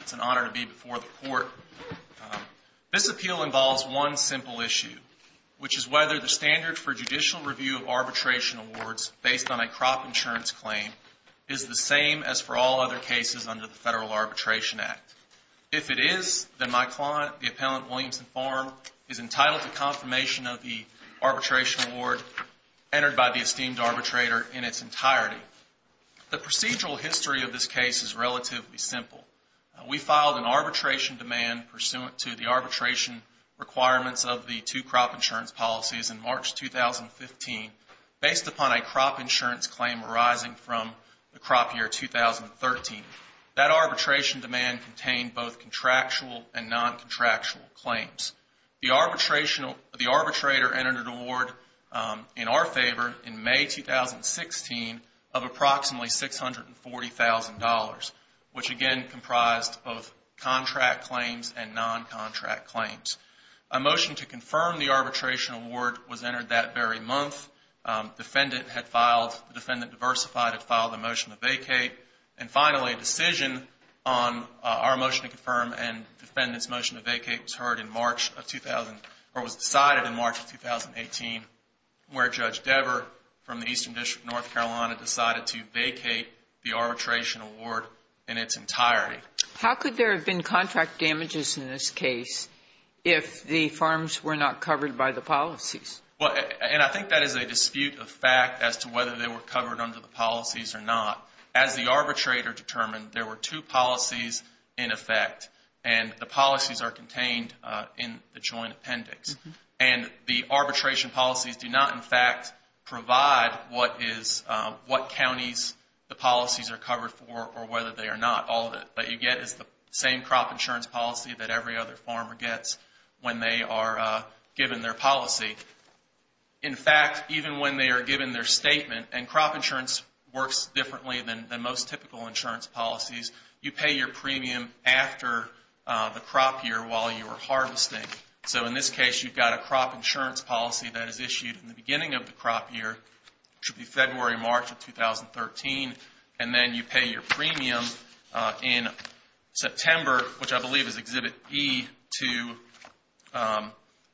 It's an honor to be before the court. This appeal involves one simple issue, which is whether the standard for judicial review of arbitration awards based on a crop insurance claim is the same as for all other cases under the Federal Arbitration Act. If it is, then my client, the appellant Williamson Farm, is entitled to confirmation of the arbitration award entered by the esteemed arbitrator in its entirety. The procedural history of this case is relatively simple. We filed an arbitration demand pursuant to the arbitration requirements of the two crop insurance policies in March 2015 based upon a crop insurance claim arising from the crop year 2013. That arbitration demand contained both contractual and non-contractual claims. The arbitrator entered an award in our favor in May 2016 of approximately $640,000. Which again comprised both contract claims and non-contract claims. A motion to confirm the arbitration award was entered that very month. The defendant diversified had filed a motion to vacate. And finally, a decision on our motion to confirm and the defendant's motion to vacate was heard in March of 2000, or was decided in March of 2018, where Judge How could there have been contract damages in this case if the farms were not covered by the policies? And I think that is a dispute of fact as to whether they were covered under the policies or not. As the arbitrator determined, there were two policies in effect and the policies are contained in the joint appendix. And the arbitration policies do not in fact provide what counties the policies are covered for or whether they are not. All that you get is the same crop insurance policy that every other farmer gets when they are given their policy. In fact, even when they are given their statement, and crop insurance works differently than most typical insurance policies, you pay your premium after the crop year while you are harvesting. So in this case, you've got a crop insurance policy that is issued in the beginning of the crop year, which would be February, March of 2013, and then you pay your premium in September, which I believe is Exhibit E, to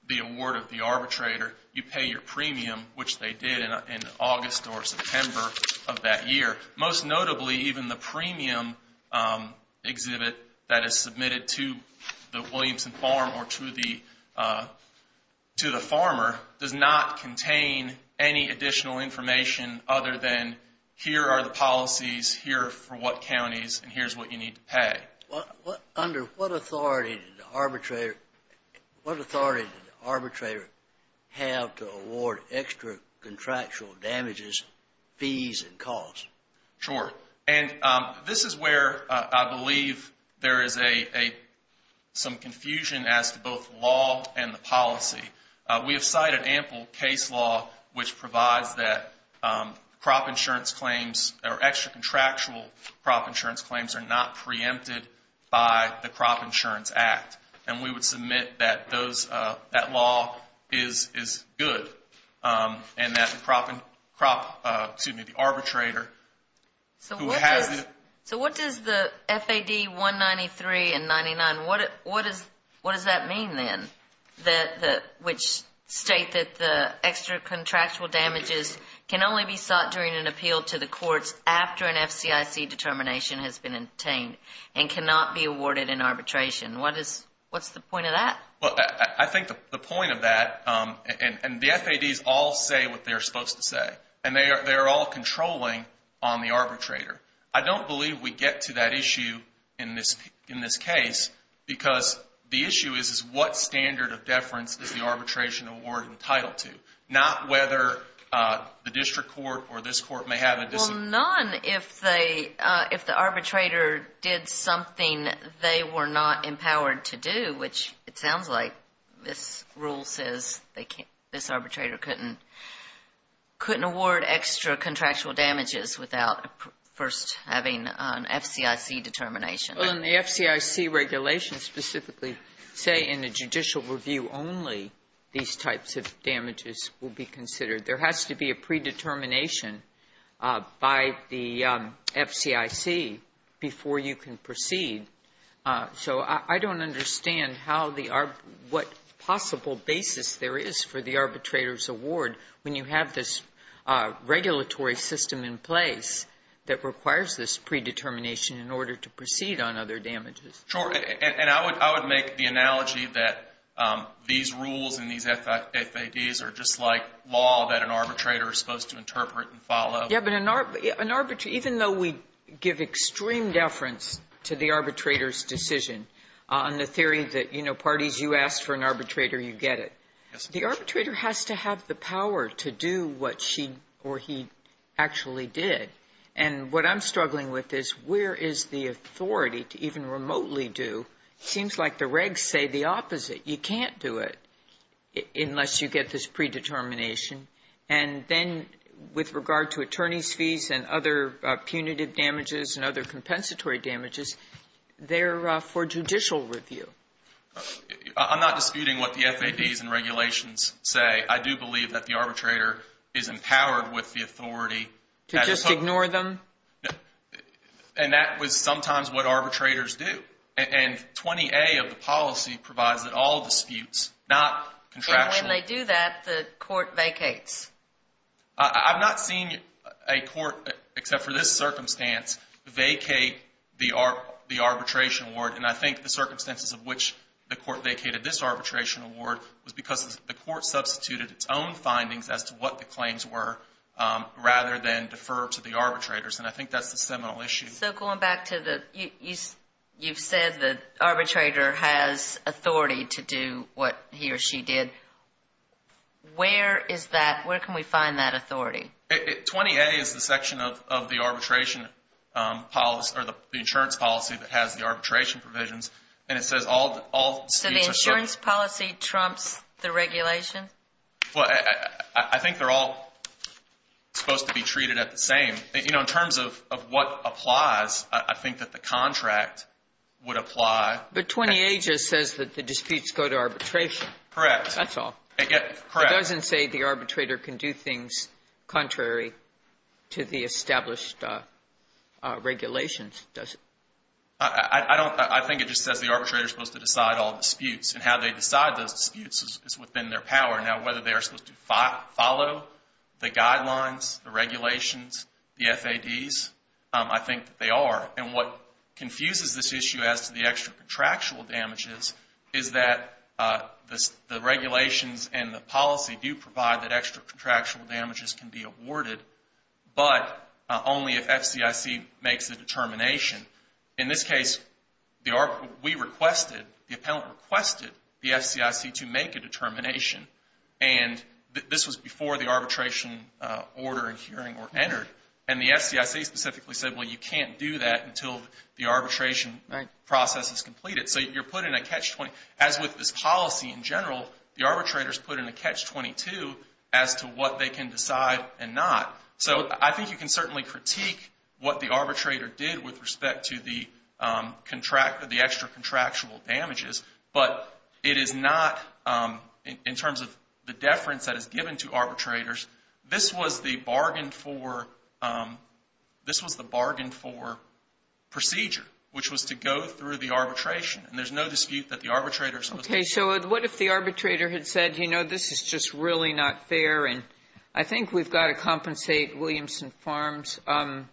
the award of the arbitrator. You pay your premium, which they did in August or September of that year. Most notably, even the premium exhibit that is submitted to the Williamson Farm or to the farmer does not contain any additional information other than here are the policies here for what counties and here's what you need to pay. Under what authority did the arbitrator have to award extra contractual damages, fees and costs? Sure. And this is where I believe there is some confusion as to both law and the policy. We have cited ample case law which provides that crop insurance claims or extra contractual crop insurance claims are not preempted by the Crop Insurance Act. And we would submit that those, that law is good and that the crop, excuse me, the arbitrator who has it. So what does the FAD 193 and 99, what does that mean then, which state that the extra contractual damages can only be sought during an appeal to the courts after an FCIC determination has been obtained and cannot be awarded in arbitration? What's the point of that? I think the point of that, and the FADs all say what they're supposed to say, and they are all controlling on the arbitrator. I don't believe we get to that issue in this case because the issue is what standard of deference is the arbitration award entitled to, not whether the district court or this court may have a dis- Well, none if the arbitrator did something they were not empowered to do, which it sounds like this rule says they can't, this arbitrator couldn't, couldn't award extra contractual damages without first having an FCIC determination. Well, and the FCIC regulations specifically say in a judicial review only these types of damages will be considered. There has to be a predetermination by the FCIC before you can proceed. So I don't understand how the arb — what possible basis there is for the arbitrator's award when you have this regulatory system in place that requires this predetermination in order to proceed on other damages. Sure. And I would make the analogy that these rules and these FADs are just like law that an arbitrator is supposed to interpret and follow. Yeah, but an arbit — even though we give extreme deference to the arbitrator's decision on the theory that, you know, parties, you ask for an arbitrator, you get it, the arbitrator has to have the power to do what she or he actually did. And what I'm struggling with is where is the authority to even remotely do — it seems like the regs say the opposite. You can't do it unless you get this predetermination. And then with regard to attorney's fees and other punitive damages and other compensatory damages, they're for judicial review. I'm not disputing what the FADs and regulations say. I do believe that the arbitrator is empowered with the authority — To just ignore them? And that was sometimes what arbitrators do. And 20A of the policy provides that all disputes, not contractual — I've not seen a court, except for this circumstance, vacate the arbitration award. And I think the circumstances of which the court vacated this arbitration award was because the court substituted its own findings as to what the claims were rather than defer to the arbitrators. And I think that's the seminal issue. So going back to the — you've said the arbitrator has authority to do what he or she did. Where is that — where can we find that authority? 20A is the section of the arbitration — or the insurance policy that has the arbitration provisions. And it says all — So the insurance policy trumps the regulation? Well, I think they're all supposed to be treated at the same. In terms of what applies, I think that the contract would apply. But 20A just says that the disputes go to arbitration. Correct. That's all. Correct. It doesn't say the arbitrator can do things contrary to the established regulations, does it? I don't — I think it just says the arbitrator is supposed to decide all disputes. And how they decide those disputes is within their power. Now, whether they are supposed to follow the guidelines, the regulations, the FADs, I think that they are. And what confuses this issue as to the extra contractual damages is that the regulations and the policy do provide that extra contractual damages can be awarded, but only if FCIC makes a determination. In this case, we requested — the appellant requested the FCIC to make a determination. And this was before the arbitration order and hearing were made. So you can't do that until the arbitration process is completed. Right. So you're put in a catch-20. As with this policy in general, the arbitrator is put in a catch-22 as to what they can decide and not. So I think you can certainly critique what the arbitrator did with respect to the extra contractual damages. But it is not, in terms of the deference that is given to the procedure, which was to go through the arbitration. And there's no dispute that the arbitrator is — Okay. So what if the arbitrator had said, you know, this is just really not fair, and I think we've got to compensate Williamson Farms. I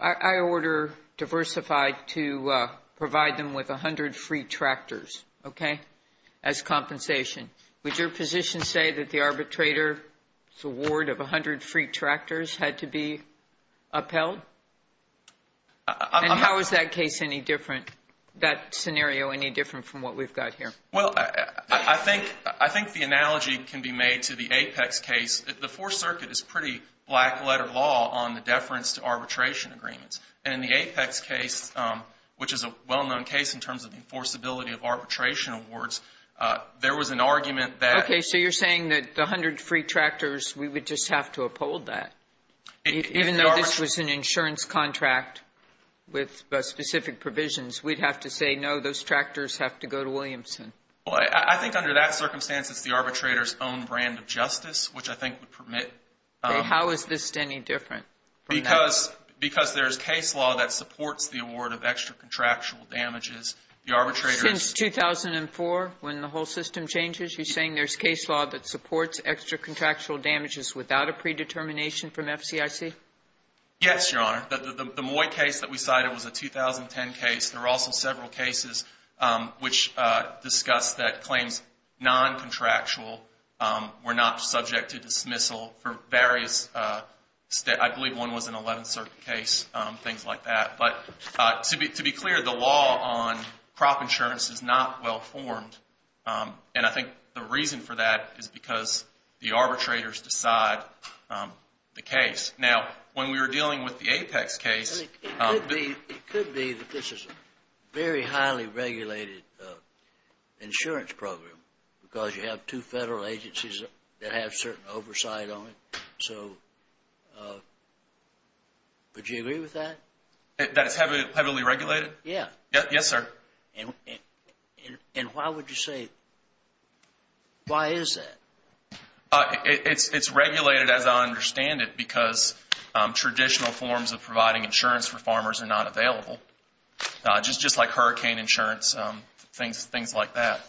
order Diversify to provide them with 100 free tractors, okay, as compensation. Would your position say that the arbitrator's award of 100 free tractors had to be upheld? And how is that case any different, that scenario any different from what we've got here? Well, I think the analogy can be made to the Apex case. The Fourth Circuit is pretty black-letter law on the deference to arbitration agreements. And in the Apex case, which is a well-known case in terms of enforceability of arbitration awards, there was an argument that — Okay. So you're saying that the 100 free tractors, we would just have to Even though this was an insurance contract with specific provisions, we'd have to say, no, those tractors have to go to Williamson. Well, I think under that circumstance, it's the arbitrator's own brand of justice, which I think would permit — Okay. How is this any different from that? Because there's case law that supports the award of extra contractual damages. The arbitrator — Since 2004, when the whole system changes, you're saying there's case law that Yes, Your Honor. The Moy case that we cited was a 2010 case. There were also several cases which discussed that claims non-contractual were not subject to dismissal for various — I believe one was an 11th Circuit case, things like that. But to be clear, the law on crop insurance is not well-formed. And I think the reason for that is because the arbitrators decide the case. Now, when we were dealing with the Apex case — It could be that this is a very highly regulated insurance program because you have two federal agencies that have certain oversight on it. So would you agree with that? That it's heavily regulated? Yeah. Yes, sir. And why would you say — why is that? It's regulated as I understand it because traditional forms of providing insurance for farmers are not available, just like hurricane insurance, things like that.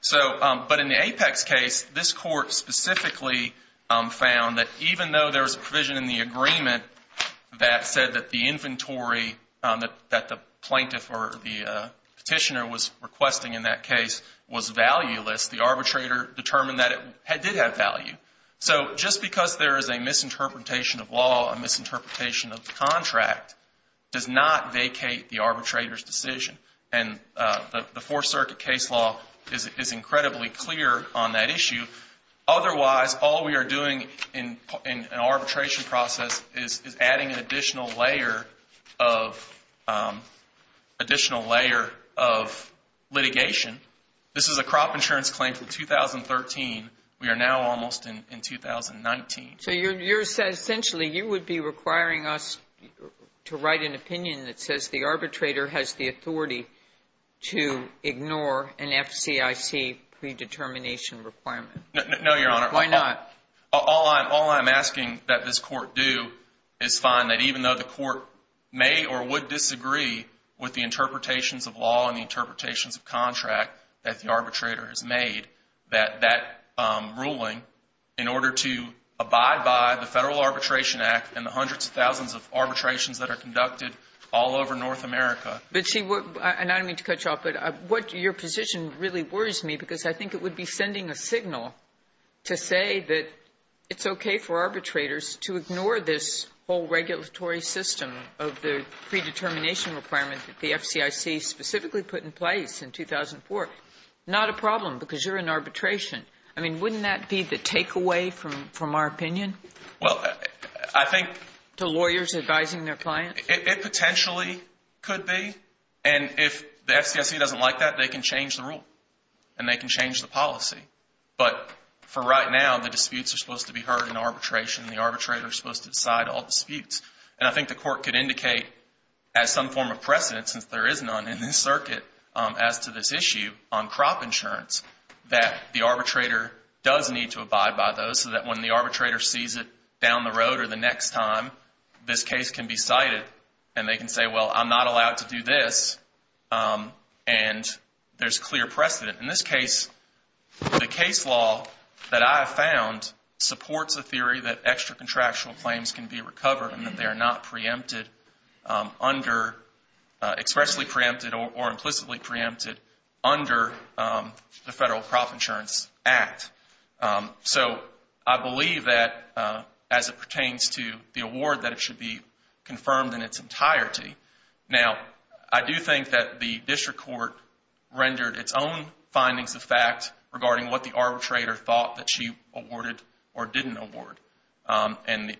So — but in the Apex case, this Court specifically found that even though there was a provision in the agreement that said that the inventory that the plaintiff or the petitioner was requesting in that case was valueless, the arbitrator determined that it did have value. So just because there is a misinterpretation of law, a misinterpretation of the contract, does not vacate the arbitrator's decision. And the Fourth Circuit case law is incredibly clear on that issue. Otherwise, all we are doing in an arbitration process is adding an additional layer of — additional layer of litigation. This is a crop insurance claim from 2013. We are now almost in 2019. So you're saying essentially you would be requiring us to write an opinion that says the arbitrator has the authority to ignore an FCIC predetermination requirement? No, Your Honor. Why not? All I'm asking that this Court do is find that even though the Court may or would disagree with the interpretations of law and the interpretations of contract that the arbitrator has made, that that ruling, in order to abide by the Federal Arbitration Act and the hundreds of thousands of arbitrations that are conducted all over North America — But, see, and I don't mean to cut you off, but what — your position really worries me, because I think it would be sending a signal to say that it's okay for arbitrators to ignore this whole regulatory system of the predetermination requirement that the FCIC specifically put in place in 2004. Not a problem, because you're in arbitration. I mean, wouldn't that be the takeaway from our opinion? Well, I think — To lawyers advising their clients? It potentially could be. And if the FCIC doesn't like that, they can change the policy. But for right now, the disputes are supposed to be heard in arbitration. The arbitrator is supposed to decide all disputes. And I think the Court could indicate, as some form of precedent, since there is none in this circuit, as to this issue on crop insurance, that the arbitrator does need to abide by those, so that when the arbitrator sees it down the road or the next time, this case can be cited and they can say, well, I'm not allowed to do this, and there's clear precedent. In this case, the case law that I have found supports a theory that extra-contractual claims can be recovered and that they are not preempted under — expressly preempted or implicitly preempted under the Federal Crop Insurance Act. So I believe that, as it pertains to the award, that it should be confirmed in its findings of fact regarding what the arbitrator thought that she awarded or didn't award. And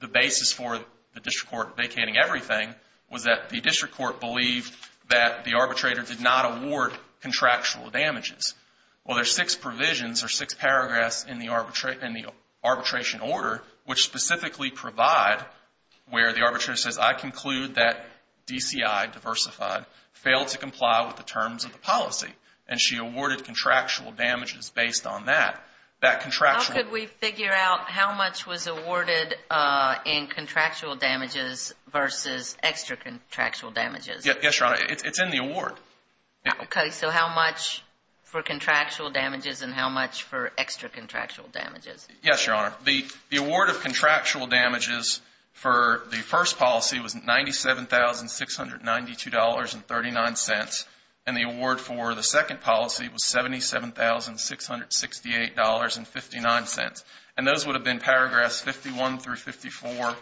the basis for the district court vacating everything was that the district court believed that the arbitrator did not award contractual damages. Well, there's six provisions or six paragraphs in the arbitration order which specifically provide where the arbitrator says, I conclude that DCI, diversified, failed to comply with the terms of the policy, and she awarded contractual damages based on that. That contractual — How could we figure out how much was awarded in contractual damages versus extra-contractual damages? Yes, Your Honor. It's in the award. Okay. So how much for contractual damages and how much for extra-contractual damages? Yes, Your Honor. The award of contractual damages for the first policy was $97,692 and 39 cents, and the award for the second policy was $77,668 and 59 cents. And those would have been paragraphs 51 through 54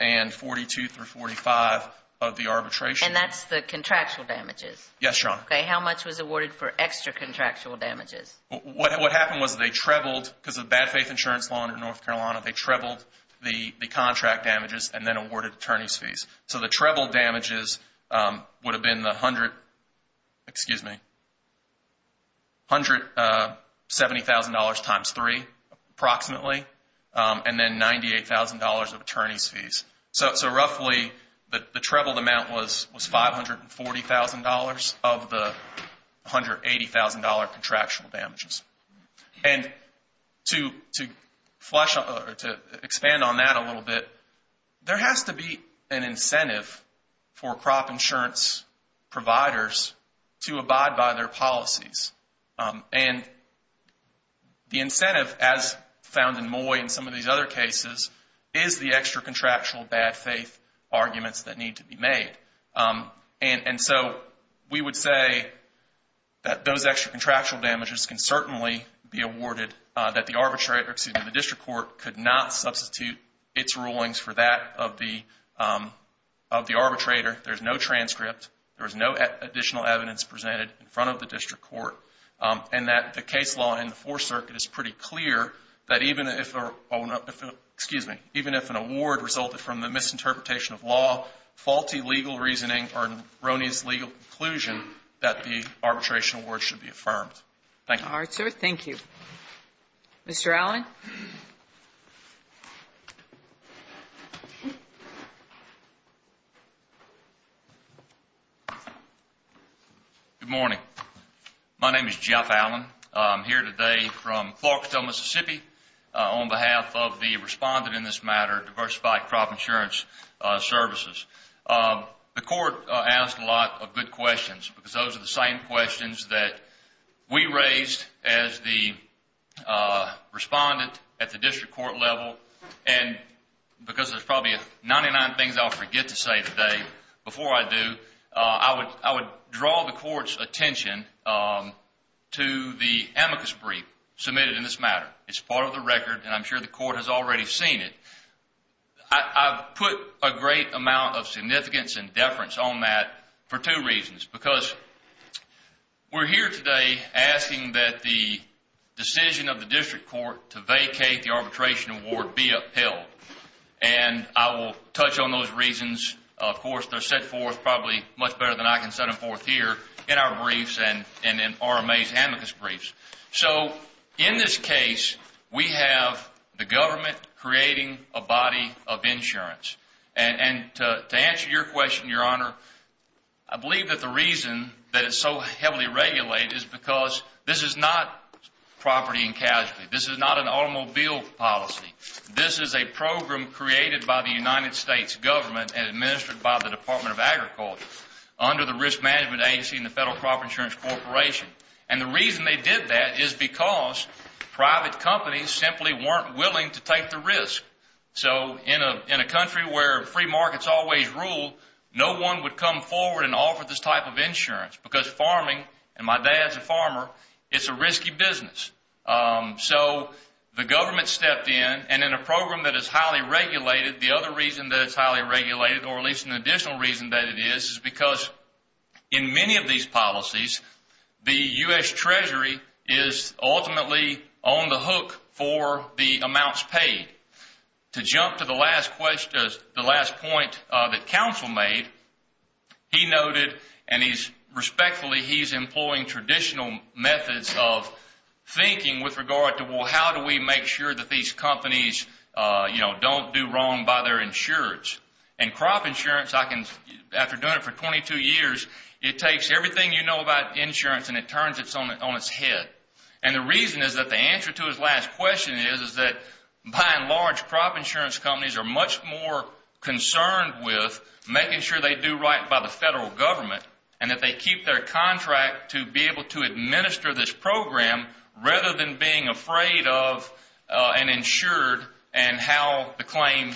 and 42 through 45 of the arbitration. And that's the contractual damages? Yes, Your Honor. Okay. How much was awarded for extra-contractual damages? What happened was they trebled, because of the bad faith insurance law under North Carolina, they trebled the contract damages and then awarded attorney's fees, would have been the $170,000 times three, approximately, and then $98,000 of attorney's fees. So roughly, the trebled amount was $540,000 of the $180,000 contractual damages. And to expand on that a little bit, there has to be an incentive for crop insurance providers to abide by their policies. And the incentive, as found in Moy and some of these other cases, is the extra-contractual bad faith arguments that need to be made. And so we would say that those extra-contractual damages can certainly be awarded, that the district court could not substitute its rulings for that of the arbitrator, there's no transcript, there's no additional evidence presented in front of the district court, and that the case law in the Fourth Circuit is pretty clear that even if an award resulted from the misinterpretation of law, faulty legal reasoning, or Roney's legal conclusion, that the arbitration award should be affirmed. Thank you. All right, sir. Thank you. Mr. Allen? Good morning. My name is Jeff Allen. I'm here today from Clarksdale, Mississippi, on behalf of the respondent in this matter, Diversified Crop Insurance Services. The court asked a lot of good questions because those are the same questions that we raised as the respondent at the district court level, and because there's probably 99 things I'll forget to say today, before I do, I would draw the court's attention to the amicus brief submitted in this matter. It's part of the record, and I'm sure the court has already seen it. I've put a great amount of significance and deference on that for two reasons, because we're here today asking that the decision of the district court to vacate the arbitration award be upheld, and I will touch on those reasons. Of course, they're set forth probably much better than I can set them forth here in our briefs and in RMA's amicus briefs. So in this case, we believe that the reason that it's so heavily regulated is because this is not property and casualty. This is not an automobile policy. This is a program created by the United States government and administered by the Department of Agriculture under the Risk Management Agency and the Federal Crop Insurance Corporation. And the reason they did that is because private companies simply weren't willing to take the risk. So in a country where free farming is a risk, no one would come forward and offer this type of insurance, because farming, and my dad's a farmer, it's a risky business. So the government stepped in, and in a program that is highly regulated, the other reason that it's highly regulated, or at least an additional reason that it is, is because in many of these policies, the U.S. Treasury is ultimately on the hook for the amounts paid. To jump to the last point that Council made, he noted, and respectfully, he's employing traditional methods of thinking with regard to, well, how do we make sure that these companies don't do wrong by their insurance? And crop insurance, after doing it for 22 years, it takes everything you know about insurance and it turns it on its head. And the reason is that the answer to his last question is that, by and large, crop insurance companies are much more concerned with making sure they do right by the federal government and that they keep their contract to be able to administer this program rather than being afraid of an insured and how the claim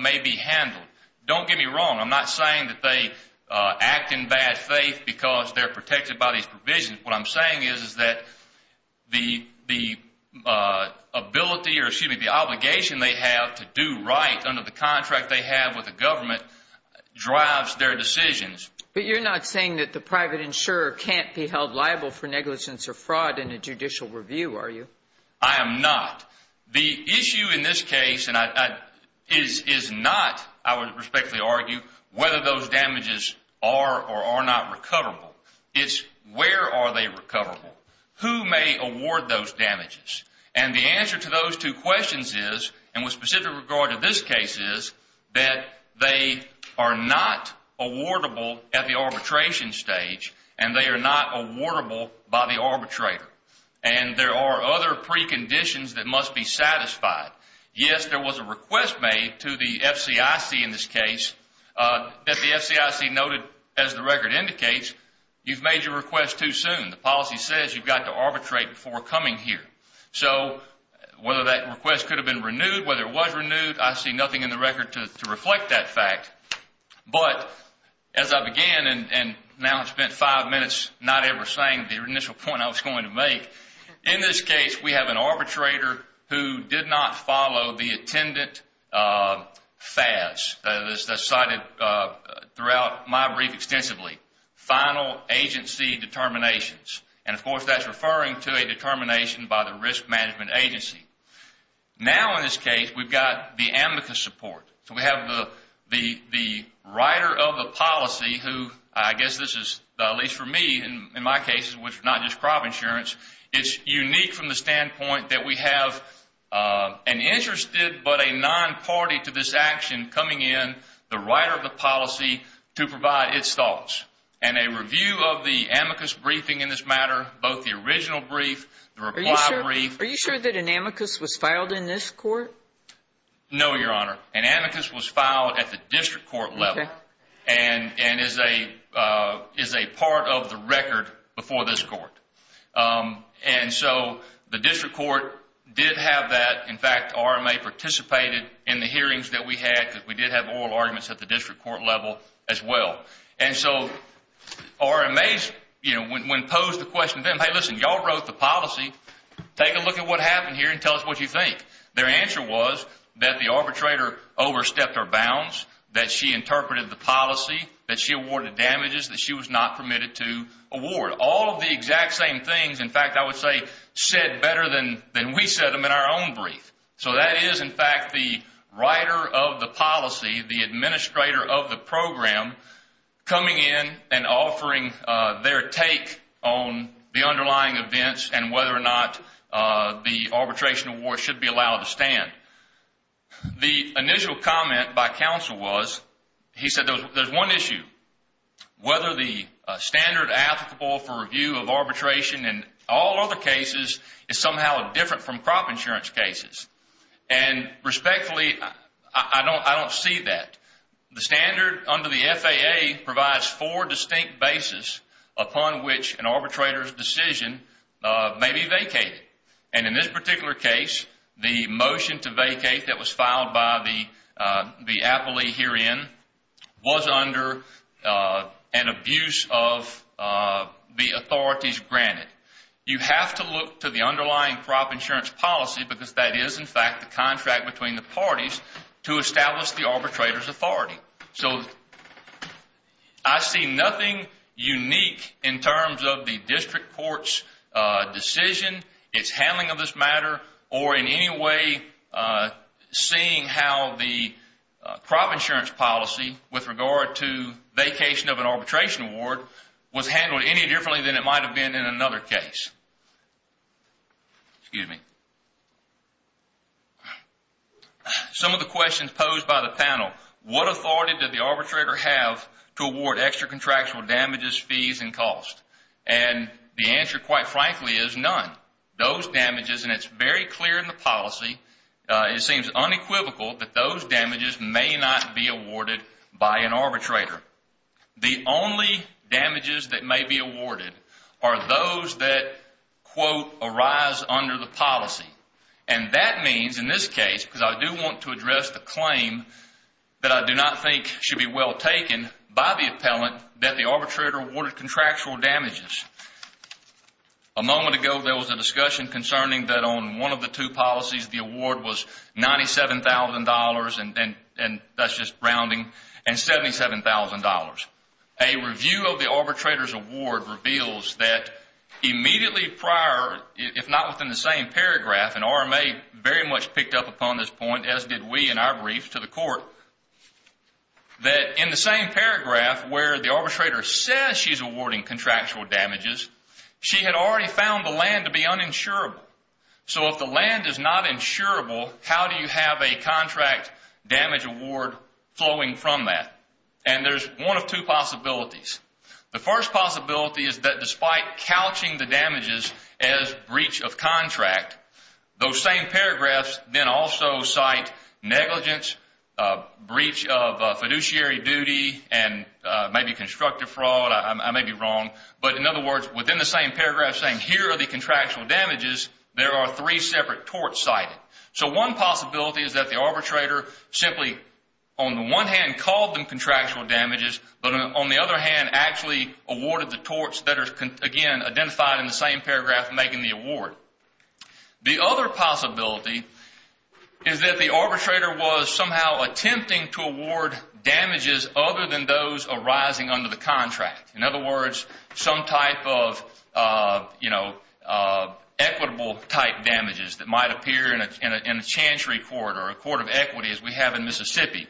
may be handled. Don't get me wrong. I'm not saying that they act in bad faith because they're excuse me, the obligation they have to do right under the contract they have with the government drives their decisions. But you're not saying that the private insurer can't be held liable for negligence or fraud in a judicial review, are you? I am not. The issue in this case is not, I would respectfully argue, whether those damages are or are not recoverable. It's where are they recoverable? Who may award those damages? And the answer to those two questions is, and with specific regard to this case is, that they are not awardable at the arbitration stage and they are not awardable by the arbitrator. And there are other preconditions that must be satisfied. Yes, there was a request made to the FCIC in this case that the FCIC noted, as the record indicates, you've made your request too soon. The policy says you've got to arbitrate before coming here. So whether that request could have been renewed, whether it was renewed, I see nothing in the record to reflect that fact. But as I began, and now I've spent five minutes not ever saying the initial point I was going to make, in this case we have an arbitrator who did not follow the attendant FAS that is cited throughout my brief extensively, final agency determinations. And of course that's referring to a determination by the risk management agency. Now in this case we've got the amicus support. So we have the writer of the policy who, I guess this is, at least for me in my case, which is not just crop insurance, it's unique from the standpoint that we have an interested but a non-party to this action coming in, the writer of the policy, to provide its thoughts. And a review of the amicus briefing in this matter, both the original brief, the reply brief. Are you sure that an amicus was filed in this court? No, Your Honor. An amicus was filed at the district court level and is a part of the district court, did have that. In fact, RMA participated in the hearings that we had because we did have oral arguments at the district court level as well. And so RMAs, when posed the question to them, hey listen, y'all wrote the policy, take a look at what happened here and tell us what you think. Their answer was that the arbitrator overstepped her bounds, that she interpreted the policy, that she awarded damages that she was not better than we said them in our own brief. So that is, in fact, the writer of the policy, the administrator of the program, coming in and offering their take on the underlying events and whether or not the arbitration award should be allowed to stand. The initial comment by counsel was, he said there's one issue, whether the standard applicable for review of arbitration and all other cases is somehow different from crop insurance cases. And respectfully, I don't see that. The standard under the FAA provides four distinct bases upon which an arbitrator's decision may be vacated. And in this particular case, the motion to vacate that was filed by the appellee herein was under an abuse of the authorities granted. You have to look to the underlying crop insurance policy because that is, in fact, the contract between the parties to establish the arbitrator's authority. So I see nothing unique in terms of the district court's decision, its handling of this matter, or in any way seeing how the crop insurance policy with regard to vacation of an arbitration award was handled any differently than it might have been in another case. Some of the questions posed by the panel, what authority did the arbitrator have to award extra contractual damages, fees, and costs? And the answer, quite frankly, is none. Those damages, and it's very clear in the policy, it seems unequivocal that those damages may not be awarded by an arbitrator. The only damages that may be awarded are those that, quote, arise under the policy. And that means, in this case, because I do want to address the claim that I do not think should be well taken by the appellant, that the arbitrator awarded contractual damages. A moment ago there was a discussion concerning that on one of the two policies the award was $97,000, and that's just rounding, and $77,000. A review of the arbitrator's award reveals that immediately prior, if not within the same paragraph, and RMA very much picked up upon this point, as did we in our brief to the court, that in the same paragraph where the arbitrator says she's awarding contractual damages, she had already found the land to be uninsurable. So if the land is not insurable, how do you have a contract damage award flowing from that? And there's one of two possibilities. The first possibility is that the same paragraphs then also cite negligence, breach of fiduciary duty, and maybe constructive fraud. I may be wrong. But in other words, within the same paragraph saying here are the contractual damages, there are three separate torts cited. So one possibility is that the arbitrator simply, on the one hand, called them contractual damages, but on the other hand, actually awarded the torts that are, again, identified in the same paragraph making the award. The other possibility is that the arbitrator was somehow attempting to award damages other than those arising under the contract. In other words, some type of, you know, equitable type damages that might appear in a chantry court or a court of equity as we have in Mississippi.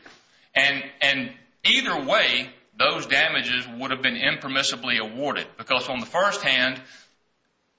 And either way, those damages would have been impermissibly awarded because on the first hand,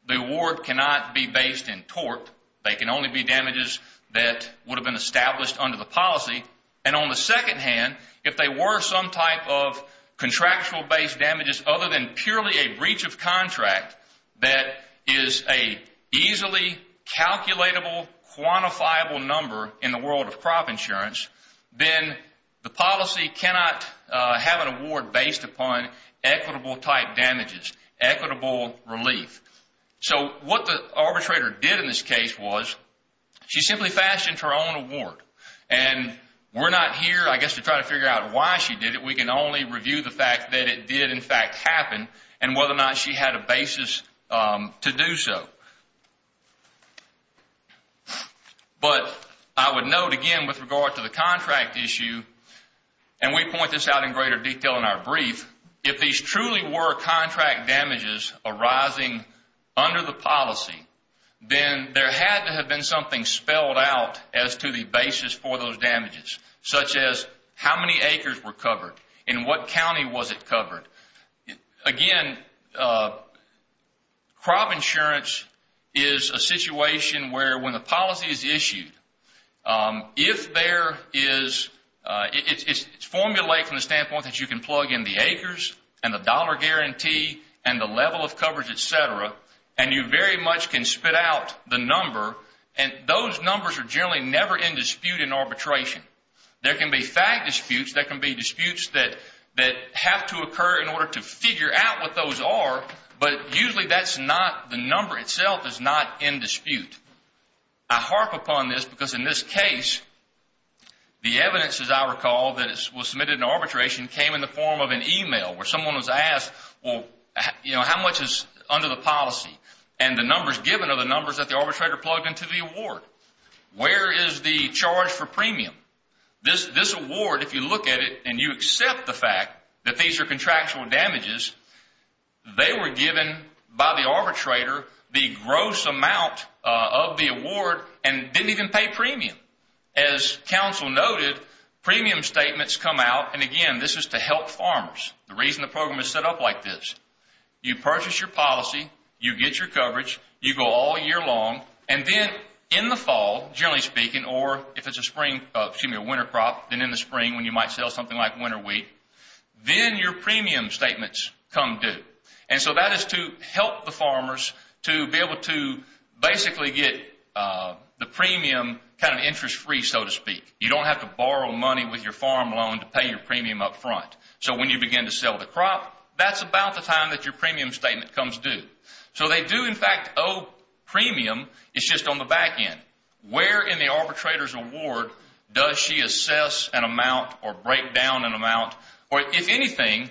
the award cannot be based in tort. They can only be damages that would have been established under the policy. And on the second hand, if they were some type of contractual based damages other than purely a breach of contract that is a easily calculable, quantifiable number in the world of crop insurance, then the policy cannot have an award based upon equitable type damages, equitable relief. So what the arbitrator did in this case was she simply fashioned her own award. And we're not here, I guess, to try to figure out why she did it. We can only review the fact that it did in fact happen and whether or not she had a basis to do so. But I would note again with regard to the contract issue, and we point this out in greater detail in our brief, if these truly were contract damages arising under the policy, then there had to have been something spelled out as to the basis for those damages, such as how many acres were covered, in what county was it covered. Again, crop insurance is a situation where when the policy is issued, if there is, it's formulated from the standpoint that you can plug in the acres and the dollar guarantee and the level of coverage, etc., and you very much can spit out the number, and those numbers are generally never in dispute in arbitration. There can be fact disputes, there can be disputes that have to occur in order to figure out what those are, but usually that's not, the number itself is not in dispute. I harp upon this because in this case, the evidence, as I recall, that was submitted in arbitration came in the form of an email where someone was asked, well, how much is under the policy? And the numbers given are the numbers that the arbitrator plugged into the award. Where is the charge for premium? This award, if you look at it and you accept the fact that these are contractual noted, premium statements come out, and again, this is to help farmers. The reason the program is set up like this, you purchase your policy, you get your coverage, you go all year long, and then in the fall, generally speaking, or if it's a winter crop, then in the spring when you might sell something like winter wheat, then your premium statements come due. And so that is to help the farmers to be able to basically get the premium kind of interest-free, so to speak. You don't have to borrow money with your farm loan to pay your premium up front. So when you begin to sell the crop, that's about the time that your premium statement comes due. So they do, in fact, owe premium, it's just on the back end. Where in the arbitrator's award does she assess an amount or break down an amount, or if anything,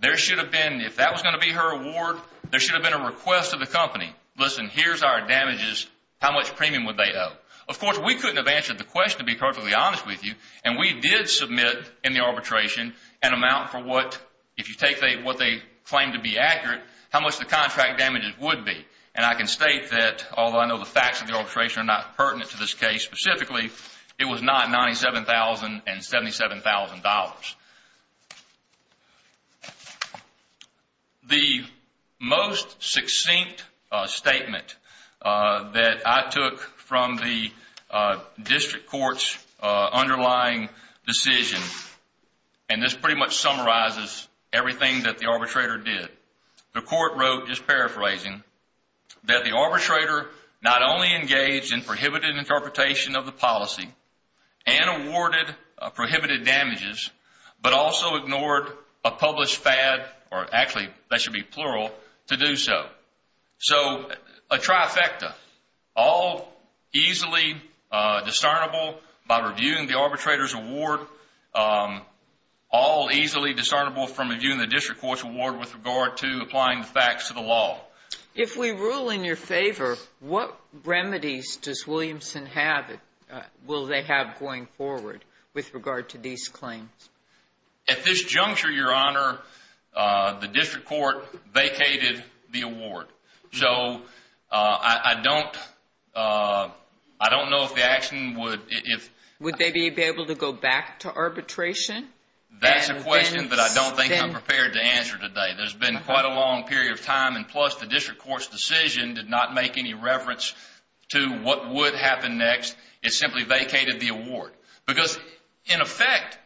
there should have been, if that was going to be her award, there should have been a request of the company, listen, here's our damages, how much premium would they owe? Of course, we couldn't have answered the question to be perfectly honest with you, and we did submit in the arbitration an amount for what, if you take what they claim to be accurate, how much the contract damages would be. And I can state that, although I know the facts of the arbitration are not pertinent to this case specifically, it was not $97,000 and $77,000. The most succinct statement that I took from the district court's underlying decision, and this pretty much summarizes everything that the arbitrator did, the court wrote, just paraphrasing, that the arbitrator not only engaged in prohibited interpretation of the policy and awarded prohibited damages but also ignored a published FAD, or actually that should be plural, to do so. So a trifecta, all easily discernible by reviewing the arbitrator's award, all easily discernible from reviewing the district court's award with regard to applying the facts to the law. If we rule in your favor, what remedies does Williamson have, will they have going forward with regard to these claims? At this juncture, Your Honor, the district court vacated the award. So I don't know if the action would... Would they be able to go back to arbitration? That's a question that I don't think I'm prepared to answer today. There's been quite a long period of time, and plus the district court's decision did not make any reference to what would happen next. It simply vacated the award. Because, in effect,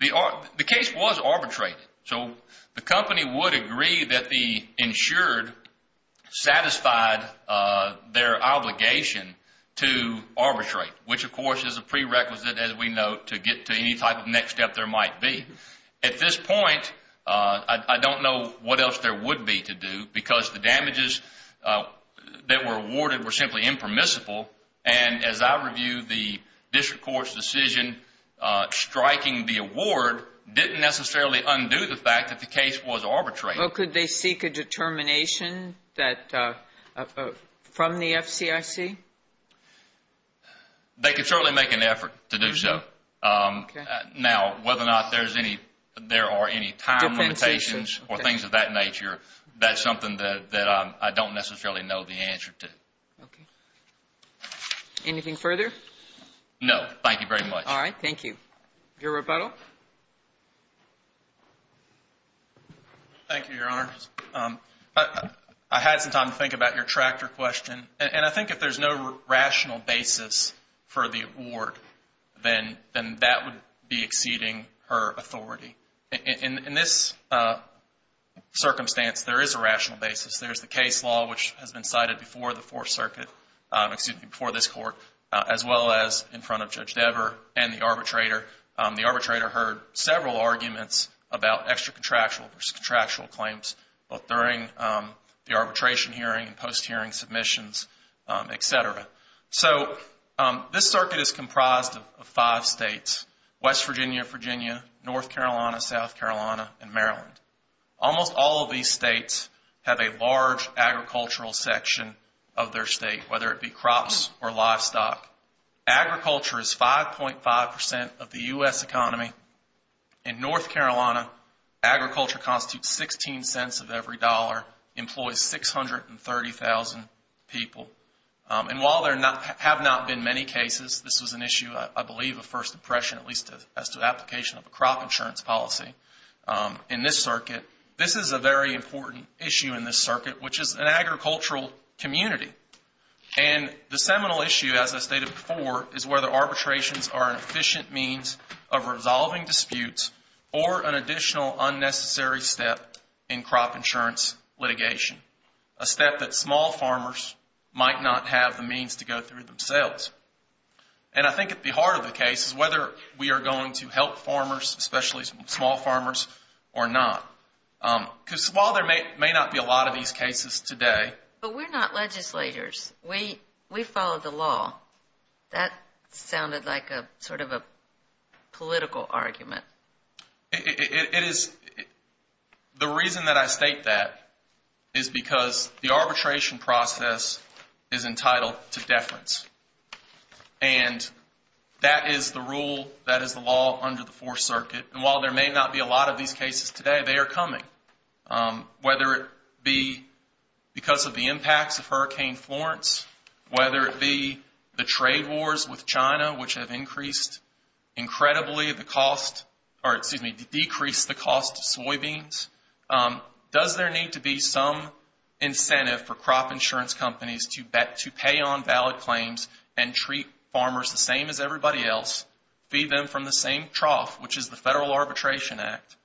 the case was arbitrated. So the company would agree that the insured satisfied their obligation to arbitrate, which, of course, is a prerequisite, as we know, to get to any type of next step there might be. At this point, I don't know what else there would be to do because the damages that were awarded were simply impermissible. And as I review the district court's decision striking the award didn't necessarily undo the fact that the case was arbitrated. Well, could they seek a determination from the FCIC? They could certainly make an effort to do so. Now, whether or not there are any time limitations or things of that nature, that's something that I don't necessarily know the answer to. Okay. Anything further? No. Thank you very much. All right. Thank you. Your rebuttal. Thank you, Your Honor. I had some time to think about your tractor question. And I think if there's no rational basis for the award, then that would be exceeding her authority. In this circumstance, there is a rational basis. There's the case law, which has been cited before the Fourth Circuit, excuse me, before this Court, as well as in front of Judge Dever and the arbitrator. The arbitrator heard several arguments about extra-contractual versus contractual claims, both during the arbitration hearing and post-hearing submissions, etc. So this circuit is comprised of five states. West Virginia, Virginia, North Carolina, South Carolina, and Maryland. Almost all of these states have a large agricultural section of their state, whether it be crops or livestock. Agriculture is 5.5% of the U.S. economy. In North Carolina, agriculture constitutes 16 cents of every dollar, employs 630,000 people. And while there have not been many cases, this was an issue, I believe, of First Impression, at least as to the application of a crop insurance policy in this circuit. This is a very important issue in this circuit, which is an agricultural community. And the seminal issue, as I stated before, is whether arbitrations are an efficient means of resolving disputes or an additional unnecessary step in crop insurance litigation. A step that small farmers might not have the means to go through themselves. And I think at the heart of the case is whether we are going to help farmers, especially small farmers, or not. Because while there may not be a lot of these cases today... But we're not legislators. We follow the law. That sounded like sort of a political argument. It is. The reason that I state that is because the arbitration process is entitled to deference. And that is the rule, that is the law under the Fourth Circuit. And while there may not be a lot of these cases today, they are coming. Whether it be because of the impacts of Hurricane Florence. Whether it be the trade wars with China, which have increased incredibly the cost... Or excuse me, decreased the cost of soybeans. Does there need to be some incentive for crop insurance companies to pay on valid claims and treat farmers the same as everybody else, feed them from the same trough, which is the Federal Arbitration Act?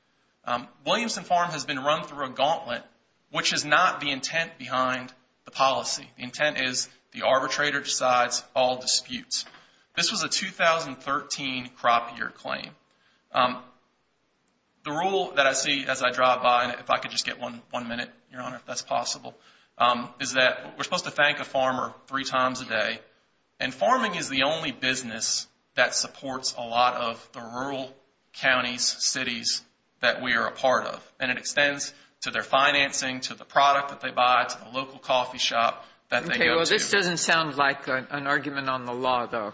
Williamson Farm has been run through a gauntlet, which is not the intent behind the policy. The intent is the arbitrator decides all disputes. This was a 2013 crop year claim. The rule that I see as I drive by, and if I could just get one minute, Your Honor, if that's possible, is that we're supposed to thank a farmer three times a day. And farming is the only business that supports a lot of the rural counties, cities that we are a part of. And it extends to their financing, to the product that they buy, to the local coffee shop that they go to. Okay, well, this doesn't sound like an argument on the law, though.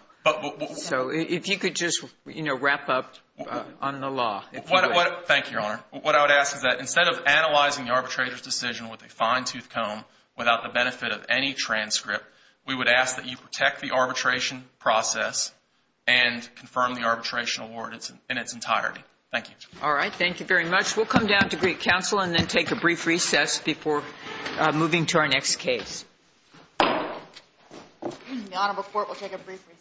So if you could just wrap up on the law, if you would. Thank you, Your Honor. What I would ask is that instead of analyzing the arbitrator's decision with a fine-tooth comb without the benefit of any transcript, we would ask that you protect the arbitration process and confirm the arbitration award in its entirety. Thank you. All right. Thank you very much. We'll come down to Greek Council and then take a brief recess before moving to our next case. Your Honor, the court will take a brief recess.